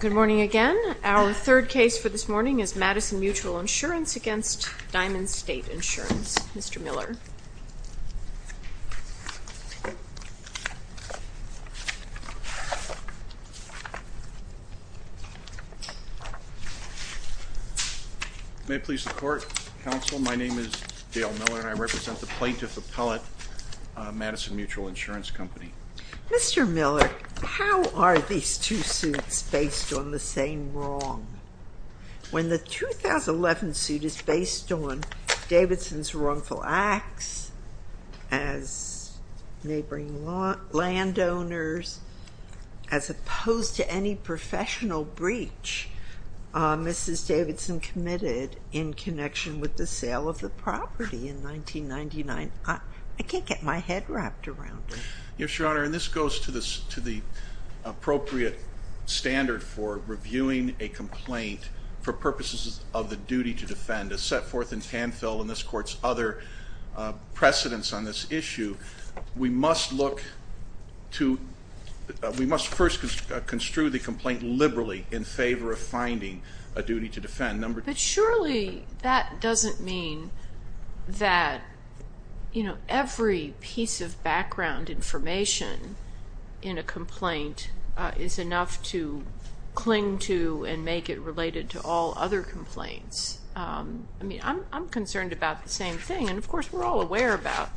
Good morning again. Our third case for this morning is Madison Mutual Insurance against Diamond State Insurance. Mr. Miller. May it please the Court, Counsel. My name is Dale Miller and I represent the Plaintiff Appellate, Madison Mutual Insurance Company. Mr. Miller, how are these two suits based on the same wrong? When the 2011 suit is based on Davidson's wrongful acts as neighboring landowners, as opposed to any professional breach, Mrs. Davidson committed in connection with the sale of the property in 1999. I can't get my head wrapped around it. Yes, Your Honor, and this goes to the appropriate standard for reviewing a complaint for purposes of the duty to defend. As set forth in Canfill and this Court's other precedents on this issue, we must first construe the complaint liberally in favor of finding a duty to defend. But surely that doesn't mean that every piece of background information in a complaint is enough to cling to and make it related to all other complaints. I'm concerned about the same thing, and of course we're all aware about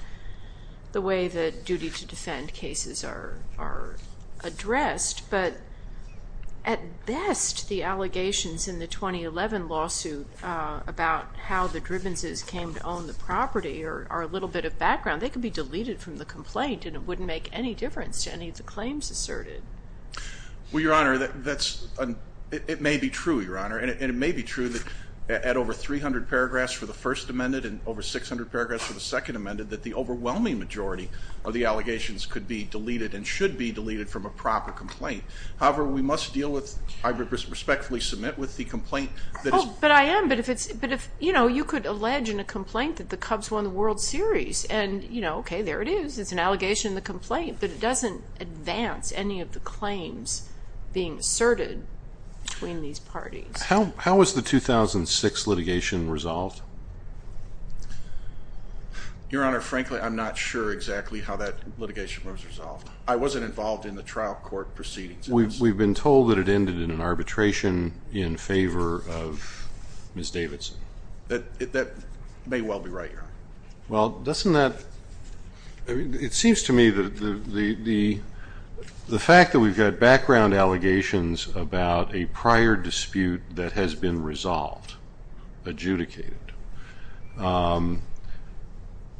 the way that duty to defend cases are addressed, but at best the allegations in the 2011 lawsuit about how the Drivens came to own the property are a little bit of background. They could be deleted from the complaint and it wouldn't make any difference to any of the claims asserted. Well, Your Honor, it may be true, Your Honor, and it may be true that at over 300 paragraphs for the first amended and over 600 paragraphs for the second amended, that the overwhelming majority of the allegations could be deleted and should be deleted from a proper complaint. However, we must deal with, I respectfully submit, with the complaint that is... Oh, but I am, but if it's, but if, you know, you could allege in a complaint that the Cubs won the World Series, and, you know, okay, there it is, it's an allegation in the complaint, but it doesn't advance any of the claims being asserted between these parties. How was the 2006 litigation resolved? Your Honor, frankly, I'm not sure exactly how that litigation was resolved. I wasn't involved in the trial court proceedings. We've been told that it ended in an arbitration in favor of Ms. Davidson. That may well be right, Your Honor. Well, doesn't that, it seems to me that the fact that we've got background allegations about a prior dispute that has been resolved, adjudicated,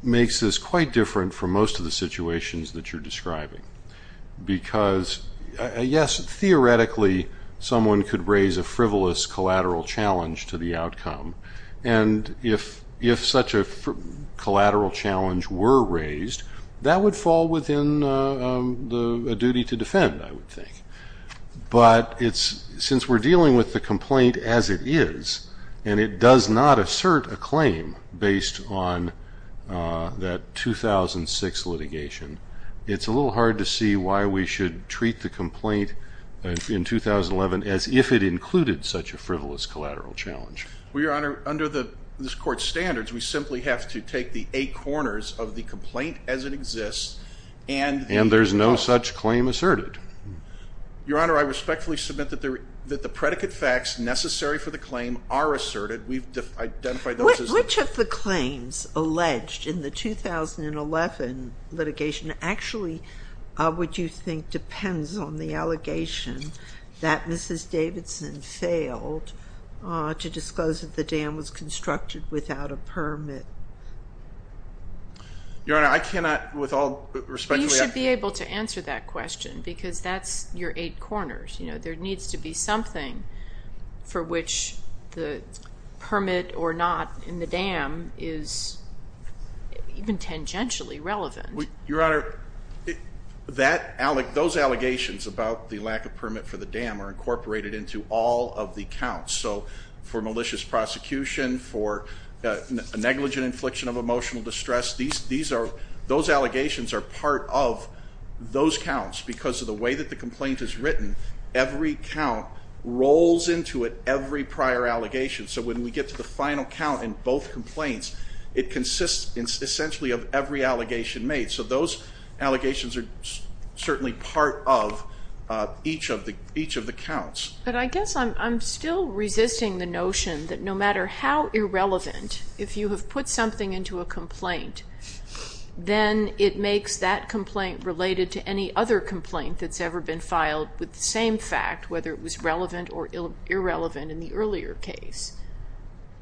makes this quite different from most of the situations that you're describing. Because, yes, theoretically, someone could raise a frivolous collateral challenge to the outcome. And if such a collateral challenge were raised, that would fall within a duty to defend, I would think. But since we're dealing with the complaint as it is, and it does not assert a claim based on that 2006 litigation, it's a little hard to see why we should treat the complaint in 2011 as if it included such a frivolous collateral challenge. Well, Your Honor, under this Court's standards, we simply have to take the eight corners of the complaint as it exists and And there's no such claim asserted. Your Honor, I respectfully submit that the predicate facts necessary for the claim are asserted. We've identified those as Which of the claims alleged in the 2011 litigation actually would you think depends on the allegation that Mrs. Davidson failed to disclose that the dam was constructed without a permit? Your Honor, I cannot with all respect You should be able to answer that question because that's your eight corners. There needs to be something for which the permit or not in the dam is even tangentially relevant. Your Honor, those allegations about the lack of permit for the dam are incorporated into all of the counts. So for malicious prosecution, for a negligent infliction of emotional distress, those allegations are part of those counts because of the way that the complaint is written. Every count rolls into it every prior allegation. So when we get to the final count in both complaints, it consists essentially of every allegation made. So those allegations are certainly part of each of the counts. But I guess I'm still resisting the notion that no matter how irrelevant, if you have put something into a complaint, then it makes that complaint related to any other complaint that's ever been filed with the same fact, whether it was relevant or irrelevant in the earlier case.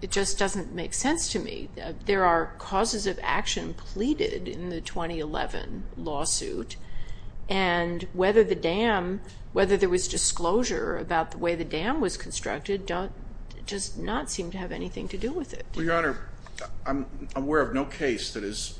It just doesn't make sense to me. There are causes of action pleaded in the 2011 lawsuit, and whether there was disclosure about the way the dam was constructed does not seem to have anything to do with it. Well, Your Honor, I'm aware of no case that has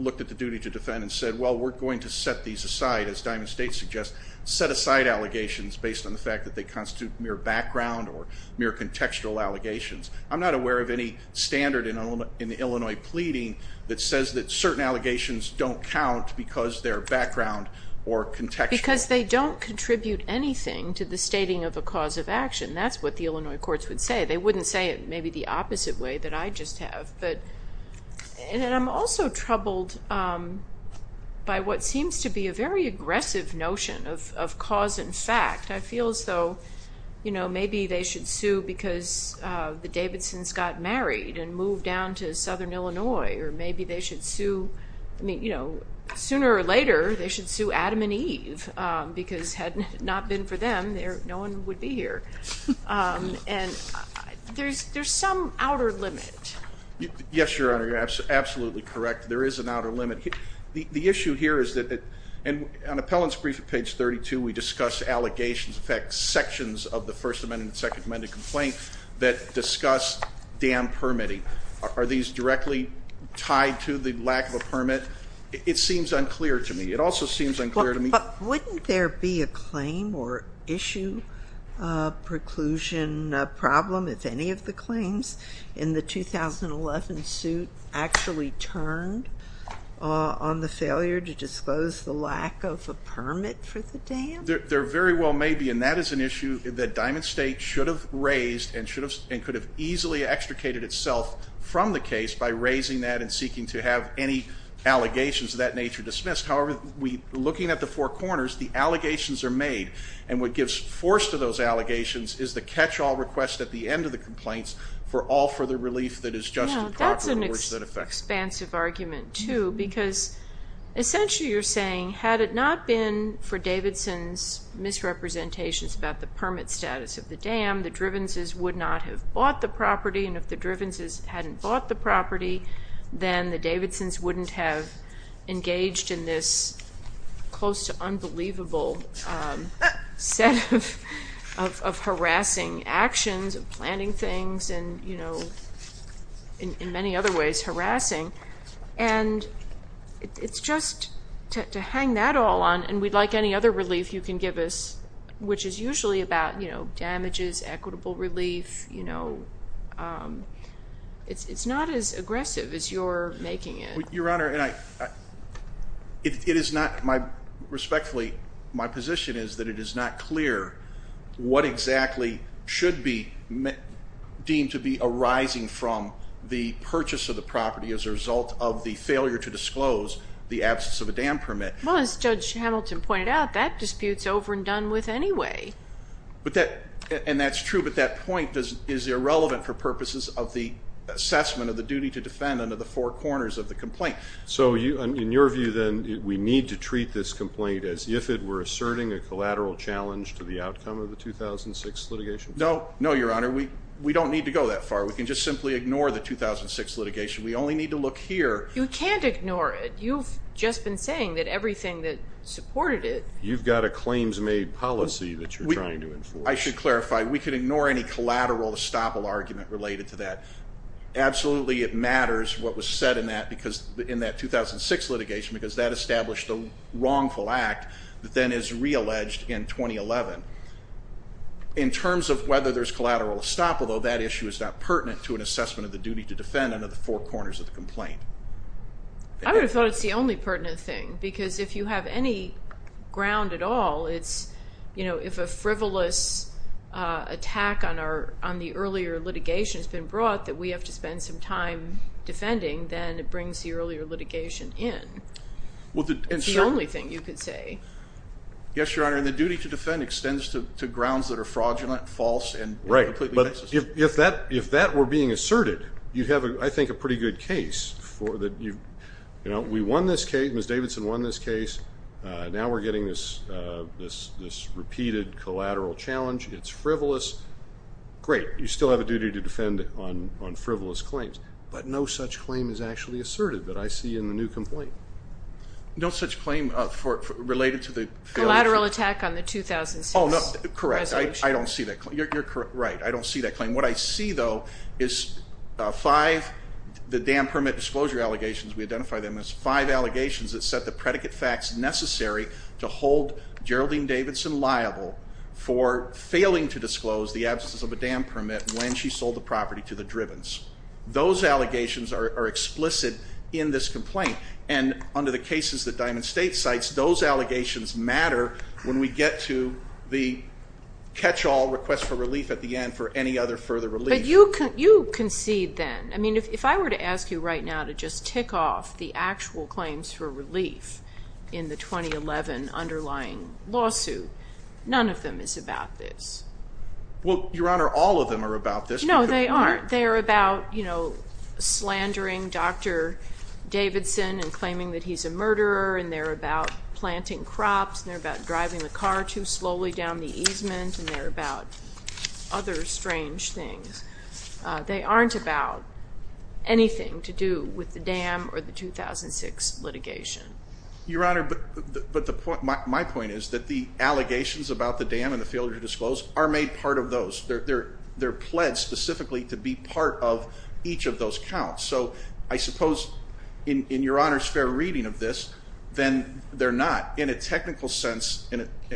looked at the duty to defend and said, well, we're going to set these aside, as Diamond State suggests, set aside allegations based on the fact that they constitute mere background or mere contextual allegations. I'm not aware of any standard in the Illinois pleading that says that certain allegations don't count because they're background or contextual. Because they don't contribute anything to the stating of a cause of action. That's what the Illinois courts would say. They wouldn't say it maybe the opposite way that I just have. And I'm also troubled by what seems to be a very aggressive notion of cause and fact. I feel as though, you know, maybe they should sue because the Davidsons got married and moved down to southern Illinois. Or maybe they should sue, I mean, you know, sooner or later they should sue Adam and Eve. Because had it not been for them, no one would be here. And there's some outer limit. Yes, Your Honor, you're absolutely correct. There is an outer limit. The issue here is that on appellant's brief at page 32, we discuss allegations, in fact, sections of the First Amendment and Second Amendment complaint that discuss dam permitting. Are these directly tied to the lack of a permit? It seems unclear to me. It also seems unclear to me. Wouldn't there be a claim or issue preclusion problem if any of the claims in the 2011 suit actually turned on the failure to disclose the lack of a permit for the dam? There very well may be, and that is an issue that Diamond State should have raised and could have easily extricated itself from the case by raising that and seeking to have any allegations of that nature dismissed. However, looking at the four corners, the allegations are made. And what gives force to those allegations is the catch-all request at the end of the complaints for all further relief that is just and proper in the words that affect it. No, that's an expansive argument, too. Because essentially you're saying, had it not been for Davidson's misrepresentations about the permit status of the dam, the Drivenses would not have bought the property, and if the Drivenses hadn't bought the property, then the Davidsons wouldn't have engaged in this close to unbelievable set of harassing actions and planning things and, you know, in many other ways harassing. And it's just to hang that all on, and we'd like any other relief you can give us, which is usually about, you know, damages, equitable relief, you know, it's not as aggressive as you're making it. Your Honor, it is not, respectfully, my position is that it is not clear what exactly should be deemed to be arising from the purchase of the property as a result of the failure to disclose the absence of a dam permit. Well, as Judge Hamilton pointed out, that dispute's over and done with anyway. And that's true, but that point is irrelevant for purposes of the assessment of the duty to defend under the four corners of the complaint. So in your view, then, we need to treat this complaint as if it were asserting a collateral challenge to the outcome of the 2006 litigation? No, no, Your Honor. We don't need to go that far. We can just simply ignore the 2006 litigation. We only need to look here. You can't ignore it. You've just been saying that everything that supported it. You've got a claims-made policy that you're trying to enforce. I should clarify. We can ignore any collateral estoppel argument related to that. Absolutely it matters what was said in that 2006 litigation because that established the wrongful act that then is realleged in 2011. In terms of whether there's collateral estoppel, though, that issue is not pertinent to an assessment of the duty to defend under the four corners of the complaint. I would have thought it's the only pertinent thing because if you have any ground at all, if a frivolous attack on the earlier litigation has been brought that we have to spend some time defending, then it brings the earlier litigation in. It's the only thing you could say. Yes, Your Honor, and the duty to defend extends to grounds that are fraudulent, false, and completely baseless. Right, but if that were being asserted, you'd have, I think, a pretty good case. We won this case. Ms. Davidson won this case. Now we're getting this repeated collateral challenge. It's frivolous. Great, you still have a duty to defend on frivolous claims, but no such claim is actually asserted that I see in the new complaint. Collateral attack on the 2006 litigation. Oh, correct. I don't see that claim. You're correct. I don't see that claim. What I see, though, is five, the dam permit disclosure allegations, we identify them as five allegations that set the predicate facts necessary to hold Geraldine Davidson liable for failing to disclose the absence of a dam permit when she sold the property to the Drivens. Those allegations are explicit in this complaint, and under the cases that Diamond State cites, those allegations matter when we get to the catch-all request for relief at the end for any other further relief. But you concede then. I mean, if I were to ask you right now to just tick off the actual claims for relief in the 2011 underlying lawsuit, none of them is about this. Well, Your Honor, all of them are about this. No, they aren't. They're about slandering Dr. Davidson and claiming that he's a murderer, and they're about planting crops, and they're about driving the car too slowly down the easement, and they're about other strange things. They aren't about anything to do with the dam or the 2006 litigation. Your Honor, but my point is that the allegations about the dam and the failure to disclose are made part of those. They're pledged specifically to be part of each of those counts. So I suppose, in Your Honor's fair reading of this, then they're not. In a technical sense,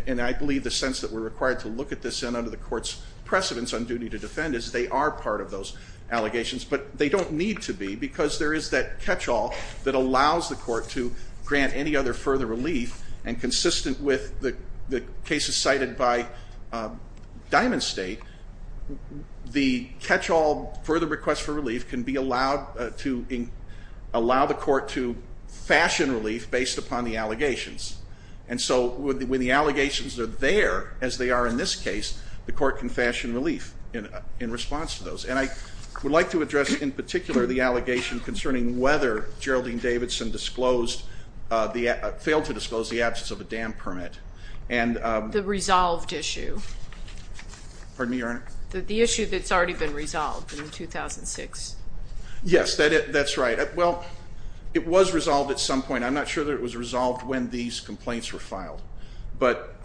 and I believe the sense that we're required to look at this under the Court's precedence on duty to defend is they are part of those allegations, but they don't need to be because there is that catch-all that allows the Court to grant any other further relief, and consistent with the cases cited by Diamond State, the catch-all further request for relief can be allowed to allow the Court to fashion relief based upon the allegations. And so when the allegations are there, as they are in this case, the Court can fashion relief in response to those. And I would like to address in particular the allegation concerning whether Geraldine Davidson failed to disclose the absence of a dam permit. The resolved issue. Pardon me, Your Honor? The issue that's already been resolved in 2006. Yes, that's right. Well, it was resolved at some point. I'm not sure that it was resolved when these complaints were filed. But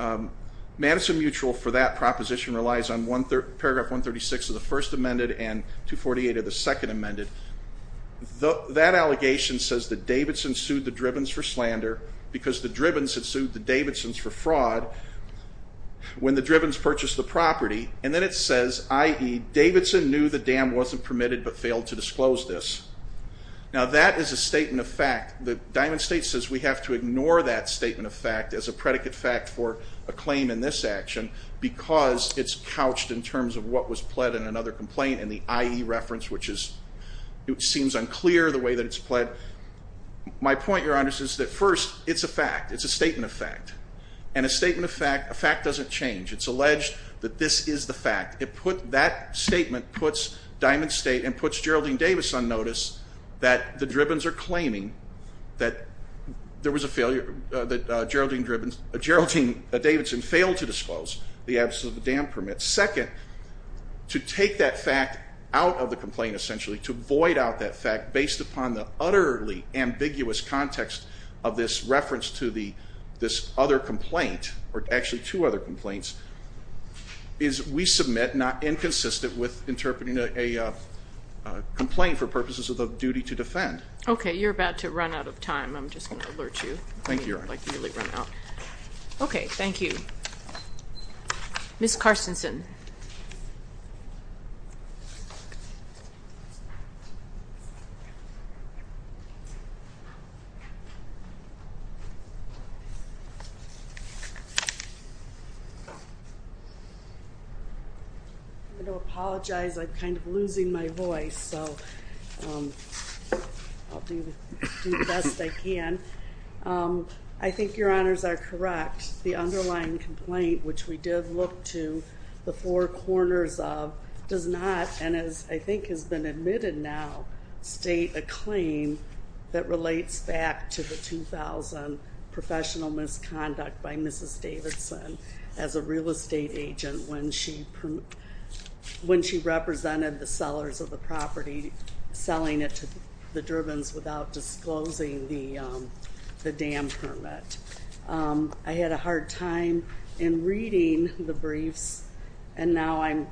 Madison Mutual for that proposition relies on paragraph 136 of the First Amendment and 248 of the Second Amendment. That allegation says that Davidson sued the Drivens for slander because the Drivens had sued the Davidsons for fraud. When the Drivens purchased the property, and then it says, i.e., Davidson knew the dam wasn't permitted but failed to disclose this. Now that is a statement of fact. Diamond State says we have to ignore that statement of fact as a predicate fact for a claim in this action because it's couched in terms of what was pled in another complaint in the i.e. reference, which seems unclear the way that it's pled. My point, Your Honor, is that first, it's a fact. It's a statement of fact. And a statement of fact doesn't change. It's alleged that this is the fact. That statement puts Diamond State and puts Geraldine Davis on notice that the Drivens are claiming that there was a failure, that Geraldine Davidson failed to disclose the absence of a dam permit. Second, to take that fact out of the complaint, essentially, to void out that fact based upon the utterly ambiguous context of this reference to this other complaint, or actually two other complaints, is we submit not inconsistent with interpreting a complaint for purposes of duty to defend. Okay. You're about to run out of time. I'm just going to alert you. Thank you, Your Honor. Okay. Thank you. Ms. Carstensen. I'm going to apologize. I'm kind of losing my voice, so I'll do the best I can. I think Your Honors are correct. The underlying complaint, which we did look to the four corners of, does not, and as I think has been admitted now, state a claim that relates back to the 2000 professional misconduct by Mrs. Davidson as a real estate agent when she represented the sellers of the property selling it to the Drivens without disclosing the dam permit. I had a hard time in reading the briefs, and now I'm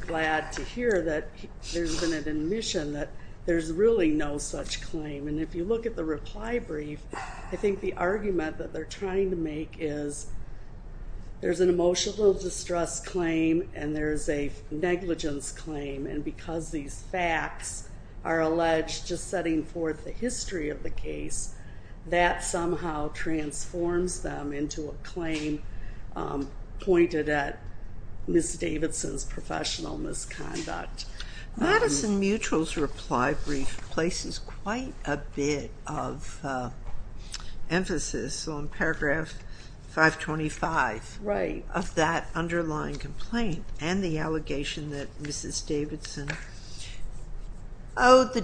glad to hear that there's been an admission that there's really no such claim. And if you look at the reply brief, I think the argument that they're trying to make is there's an emotional distress claim and there's a negligence claim, and because these facts are alleged, just setting forth the history of the case, that somehow transforms them into a claim pointed at Ms. Davidson's professional misconduct. Madison Mutual's reply brief places quite a bit of emphasis on paragraph 525 of that underlying complaint and the allegation that Mrs. Davidson owed the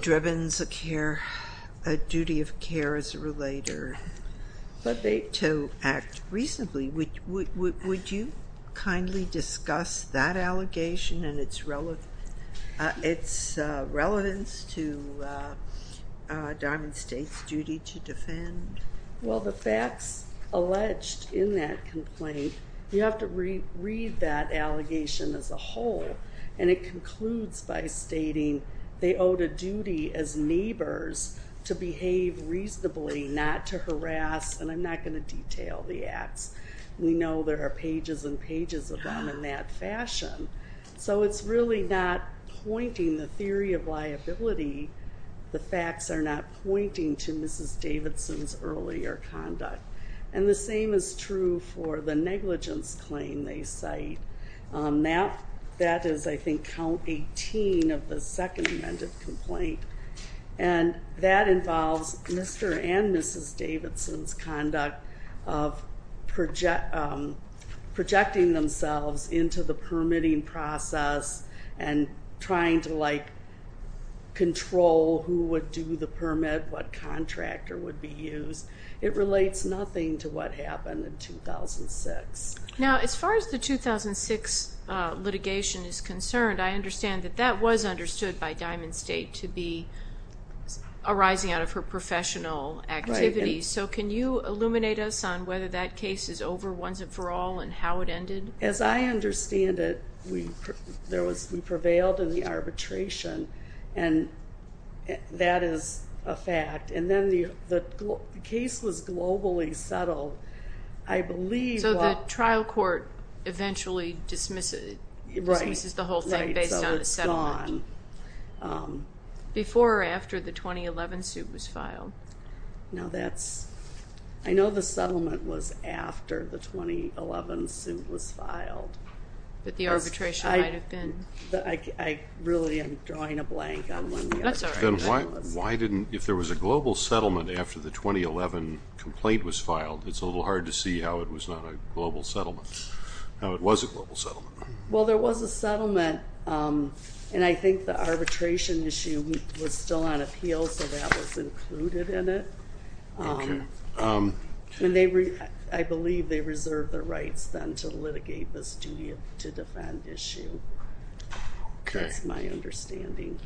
sellers a relator to act reasonably. Would you kindly discuss that allegation and its relevance to Diamond State's duty to defend? Well, the facts alleged in that complaint, you have to read that allegation as a whole, and it concludes by stating they owed a duty as neighbors to behave reasonably, not to harass, and I'm not going to detail the acts. We know there are pages and pages of them in that fashion. So it's really not pointing the theory of liability. The facts are not pointing to Mrs. Davidson's earlier conduct. And the same is true for the negligence claim they cite. That is, I think, count 18 of the second amended complaint, and that involves Mr. and Mrs. Davidson's conduct of projecting themselves into the permitting process and trying to, like, control who would do the permit, what contractor would be used. It relates nothing to what happened in 2006. Now, as far as the 2006 litigation is concerned, I understand that that was understood by Diamond State to be arising out of her professional activities. So can you illuminate us on whether that case is over once and for all and how it ended? As I understand it, we prevailed in the arbitration, and that is a fact. And then the case was globally settled. I believe what the trial court eventually dismisses the whole thing. So it's gone. Before or after the 2011 suit was filed? No, I know the settlement was after the 2011 suit was filed. But the arbitration might have been? I really am drawing a blank on when the arbitration was. If there was a global settlement after the 2011 complaint was filed, it's a little hard to see how it was not a global settlement, how it was a global settlement. Well, there was a settlement, and I think the arbitration issue was still on appeal, so that was included in it. Okay. And I believe they reserved the rights then to litigate this duty to defend issue. Okay. That's my understanding.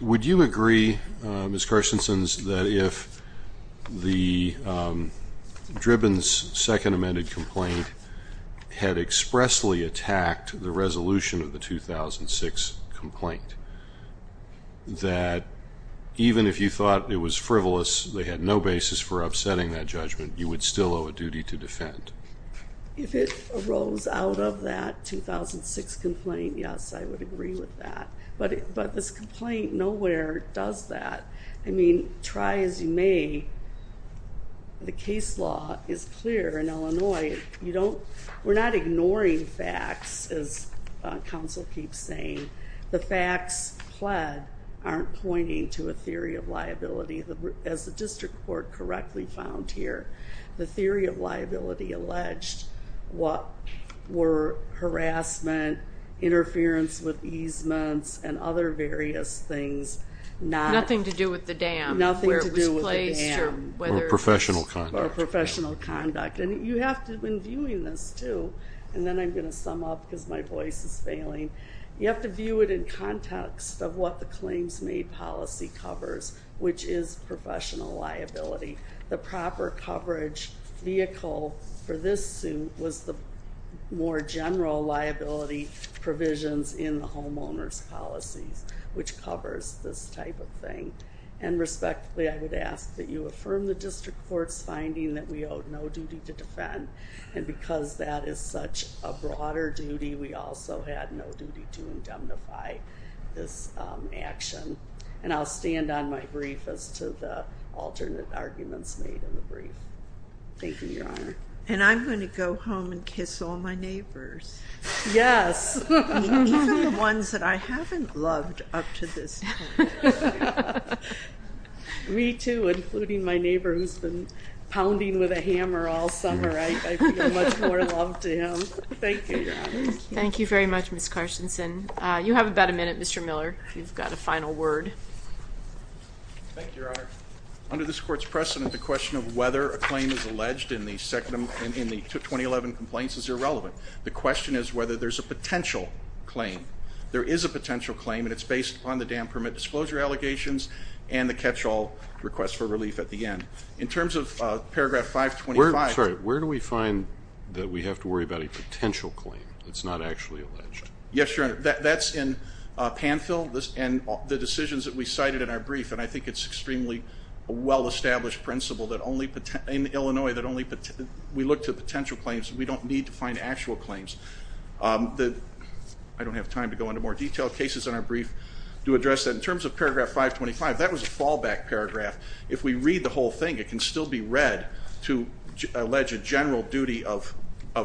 Would you agree, Ms. Carstensen, that if the Dribben's second amended complaint had expressly attacked the resolution of the 2006 complaint, that even if you thought it was frivolous, they had no basis for upsetting that judgment, you would still owe a duty to defend? If it arose out of that 2006 complaint, yes, I would agree with that. But this complaint nowhere does that. I mean, try as you may, the case law is clear in Illinois. We're not ignoring facts, as counsel keeps saying. The facts pled aren't pointing to a theory of liability, as the district court correctly found here. The theory of liability alleged what were harassment, interference with easements, and other various things. Nothing to do with the dam. Nothing to do with the dam. Or professional conduct. Or professional conduct. And you have to, when viewing this, too, and then I'm going to sum up because my voice is failing, you have to view it in context of what the claims made policy covers, which is professional liability. The proper coverage vehicle for this suit was the more general liability provisions in the homeowner's policies, which covers this type of thing. And respectfully, I would ask that you affirm the district court's finding that we owe no duty to defend. And because that is such a broader duty, we also had no duty to indemnify this action. And I'll stand on my brief as to the alternate arguments made in the brief. Thank you, Your Honor. And I'm going to go home and kiss all my neighbors. Yes. Even the ones that I haven't loved up to this point. Me, too, including my neighbor who's been pounding with a hammer all summer. I feel much more love to him. Thank you, Your Honor. Thank you very much, Ms. Carstensen. You have about a minute, Mr. Miller, if you've got a final word. Thank you, Your Honor. Under this court's precedent, the question of whether a claim is alleged in the 2011 complaint is irrelevant. The question is whether there's a potential claim. There is a potential claim, and it's based upon the dam permit disclosure allegations and the catch-all request for relief at the end. In terms of paragraph 525. Sorry, where do we find that we have to worry about a potential claim that's not actually alleged? Yes, Your Honor. That's in PANFIL and the decisions that we cited in our brief. And I think it's extremely a well-established principle in Illinois that we look to potential claims. We don't need to find actual claims. I don't have time to go into more detail. Cases in our brief do address that. In terms of paragraph 525, that was a fallback paragraph. If we read the whole thing, it can still be read to allege a general duty of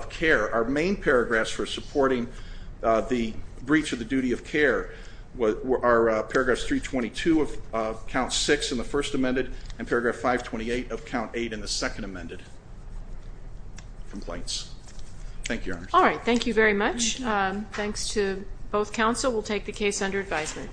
care. Our main paragraphs for supporting the breach of the duty of care are paragraphs 322 of Count 6 in the First Amendment and paragraph 528 of Count 8 in the Second Amendment complaints. Thank you, Your Honor. All right. Thank you very much. Thanks to both counsel. We'll take the case under advisement.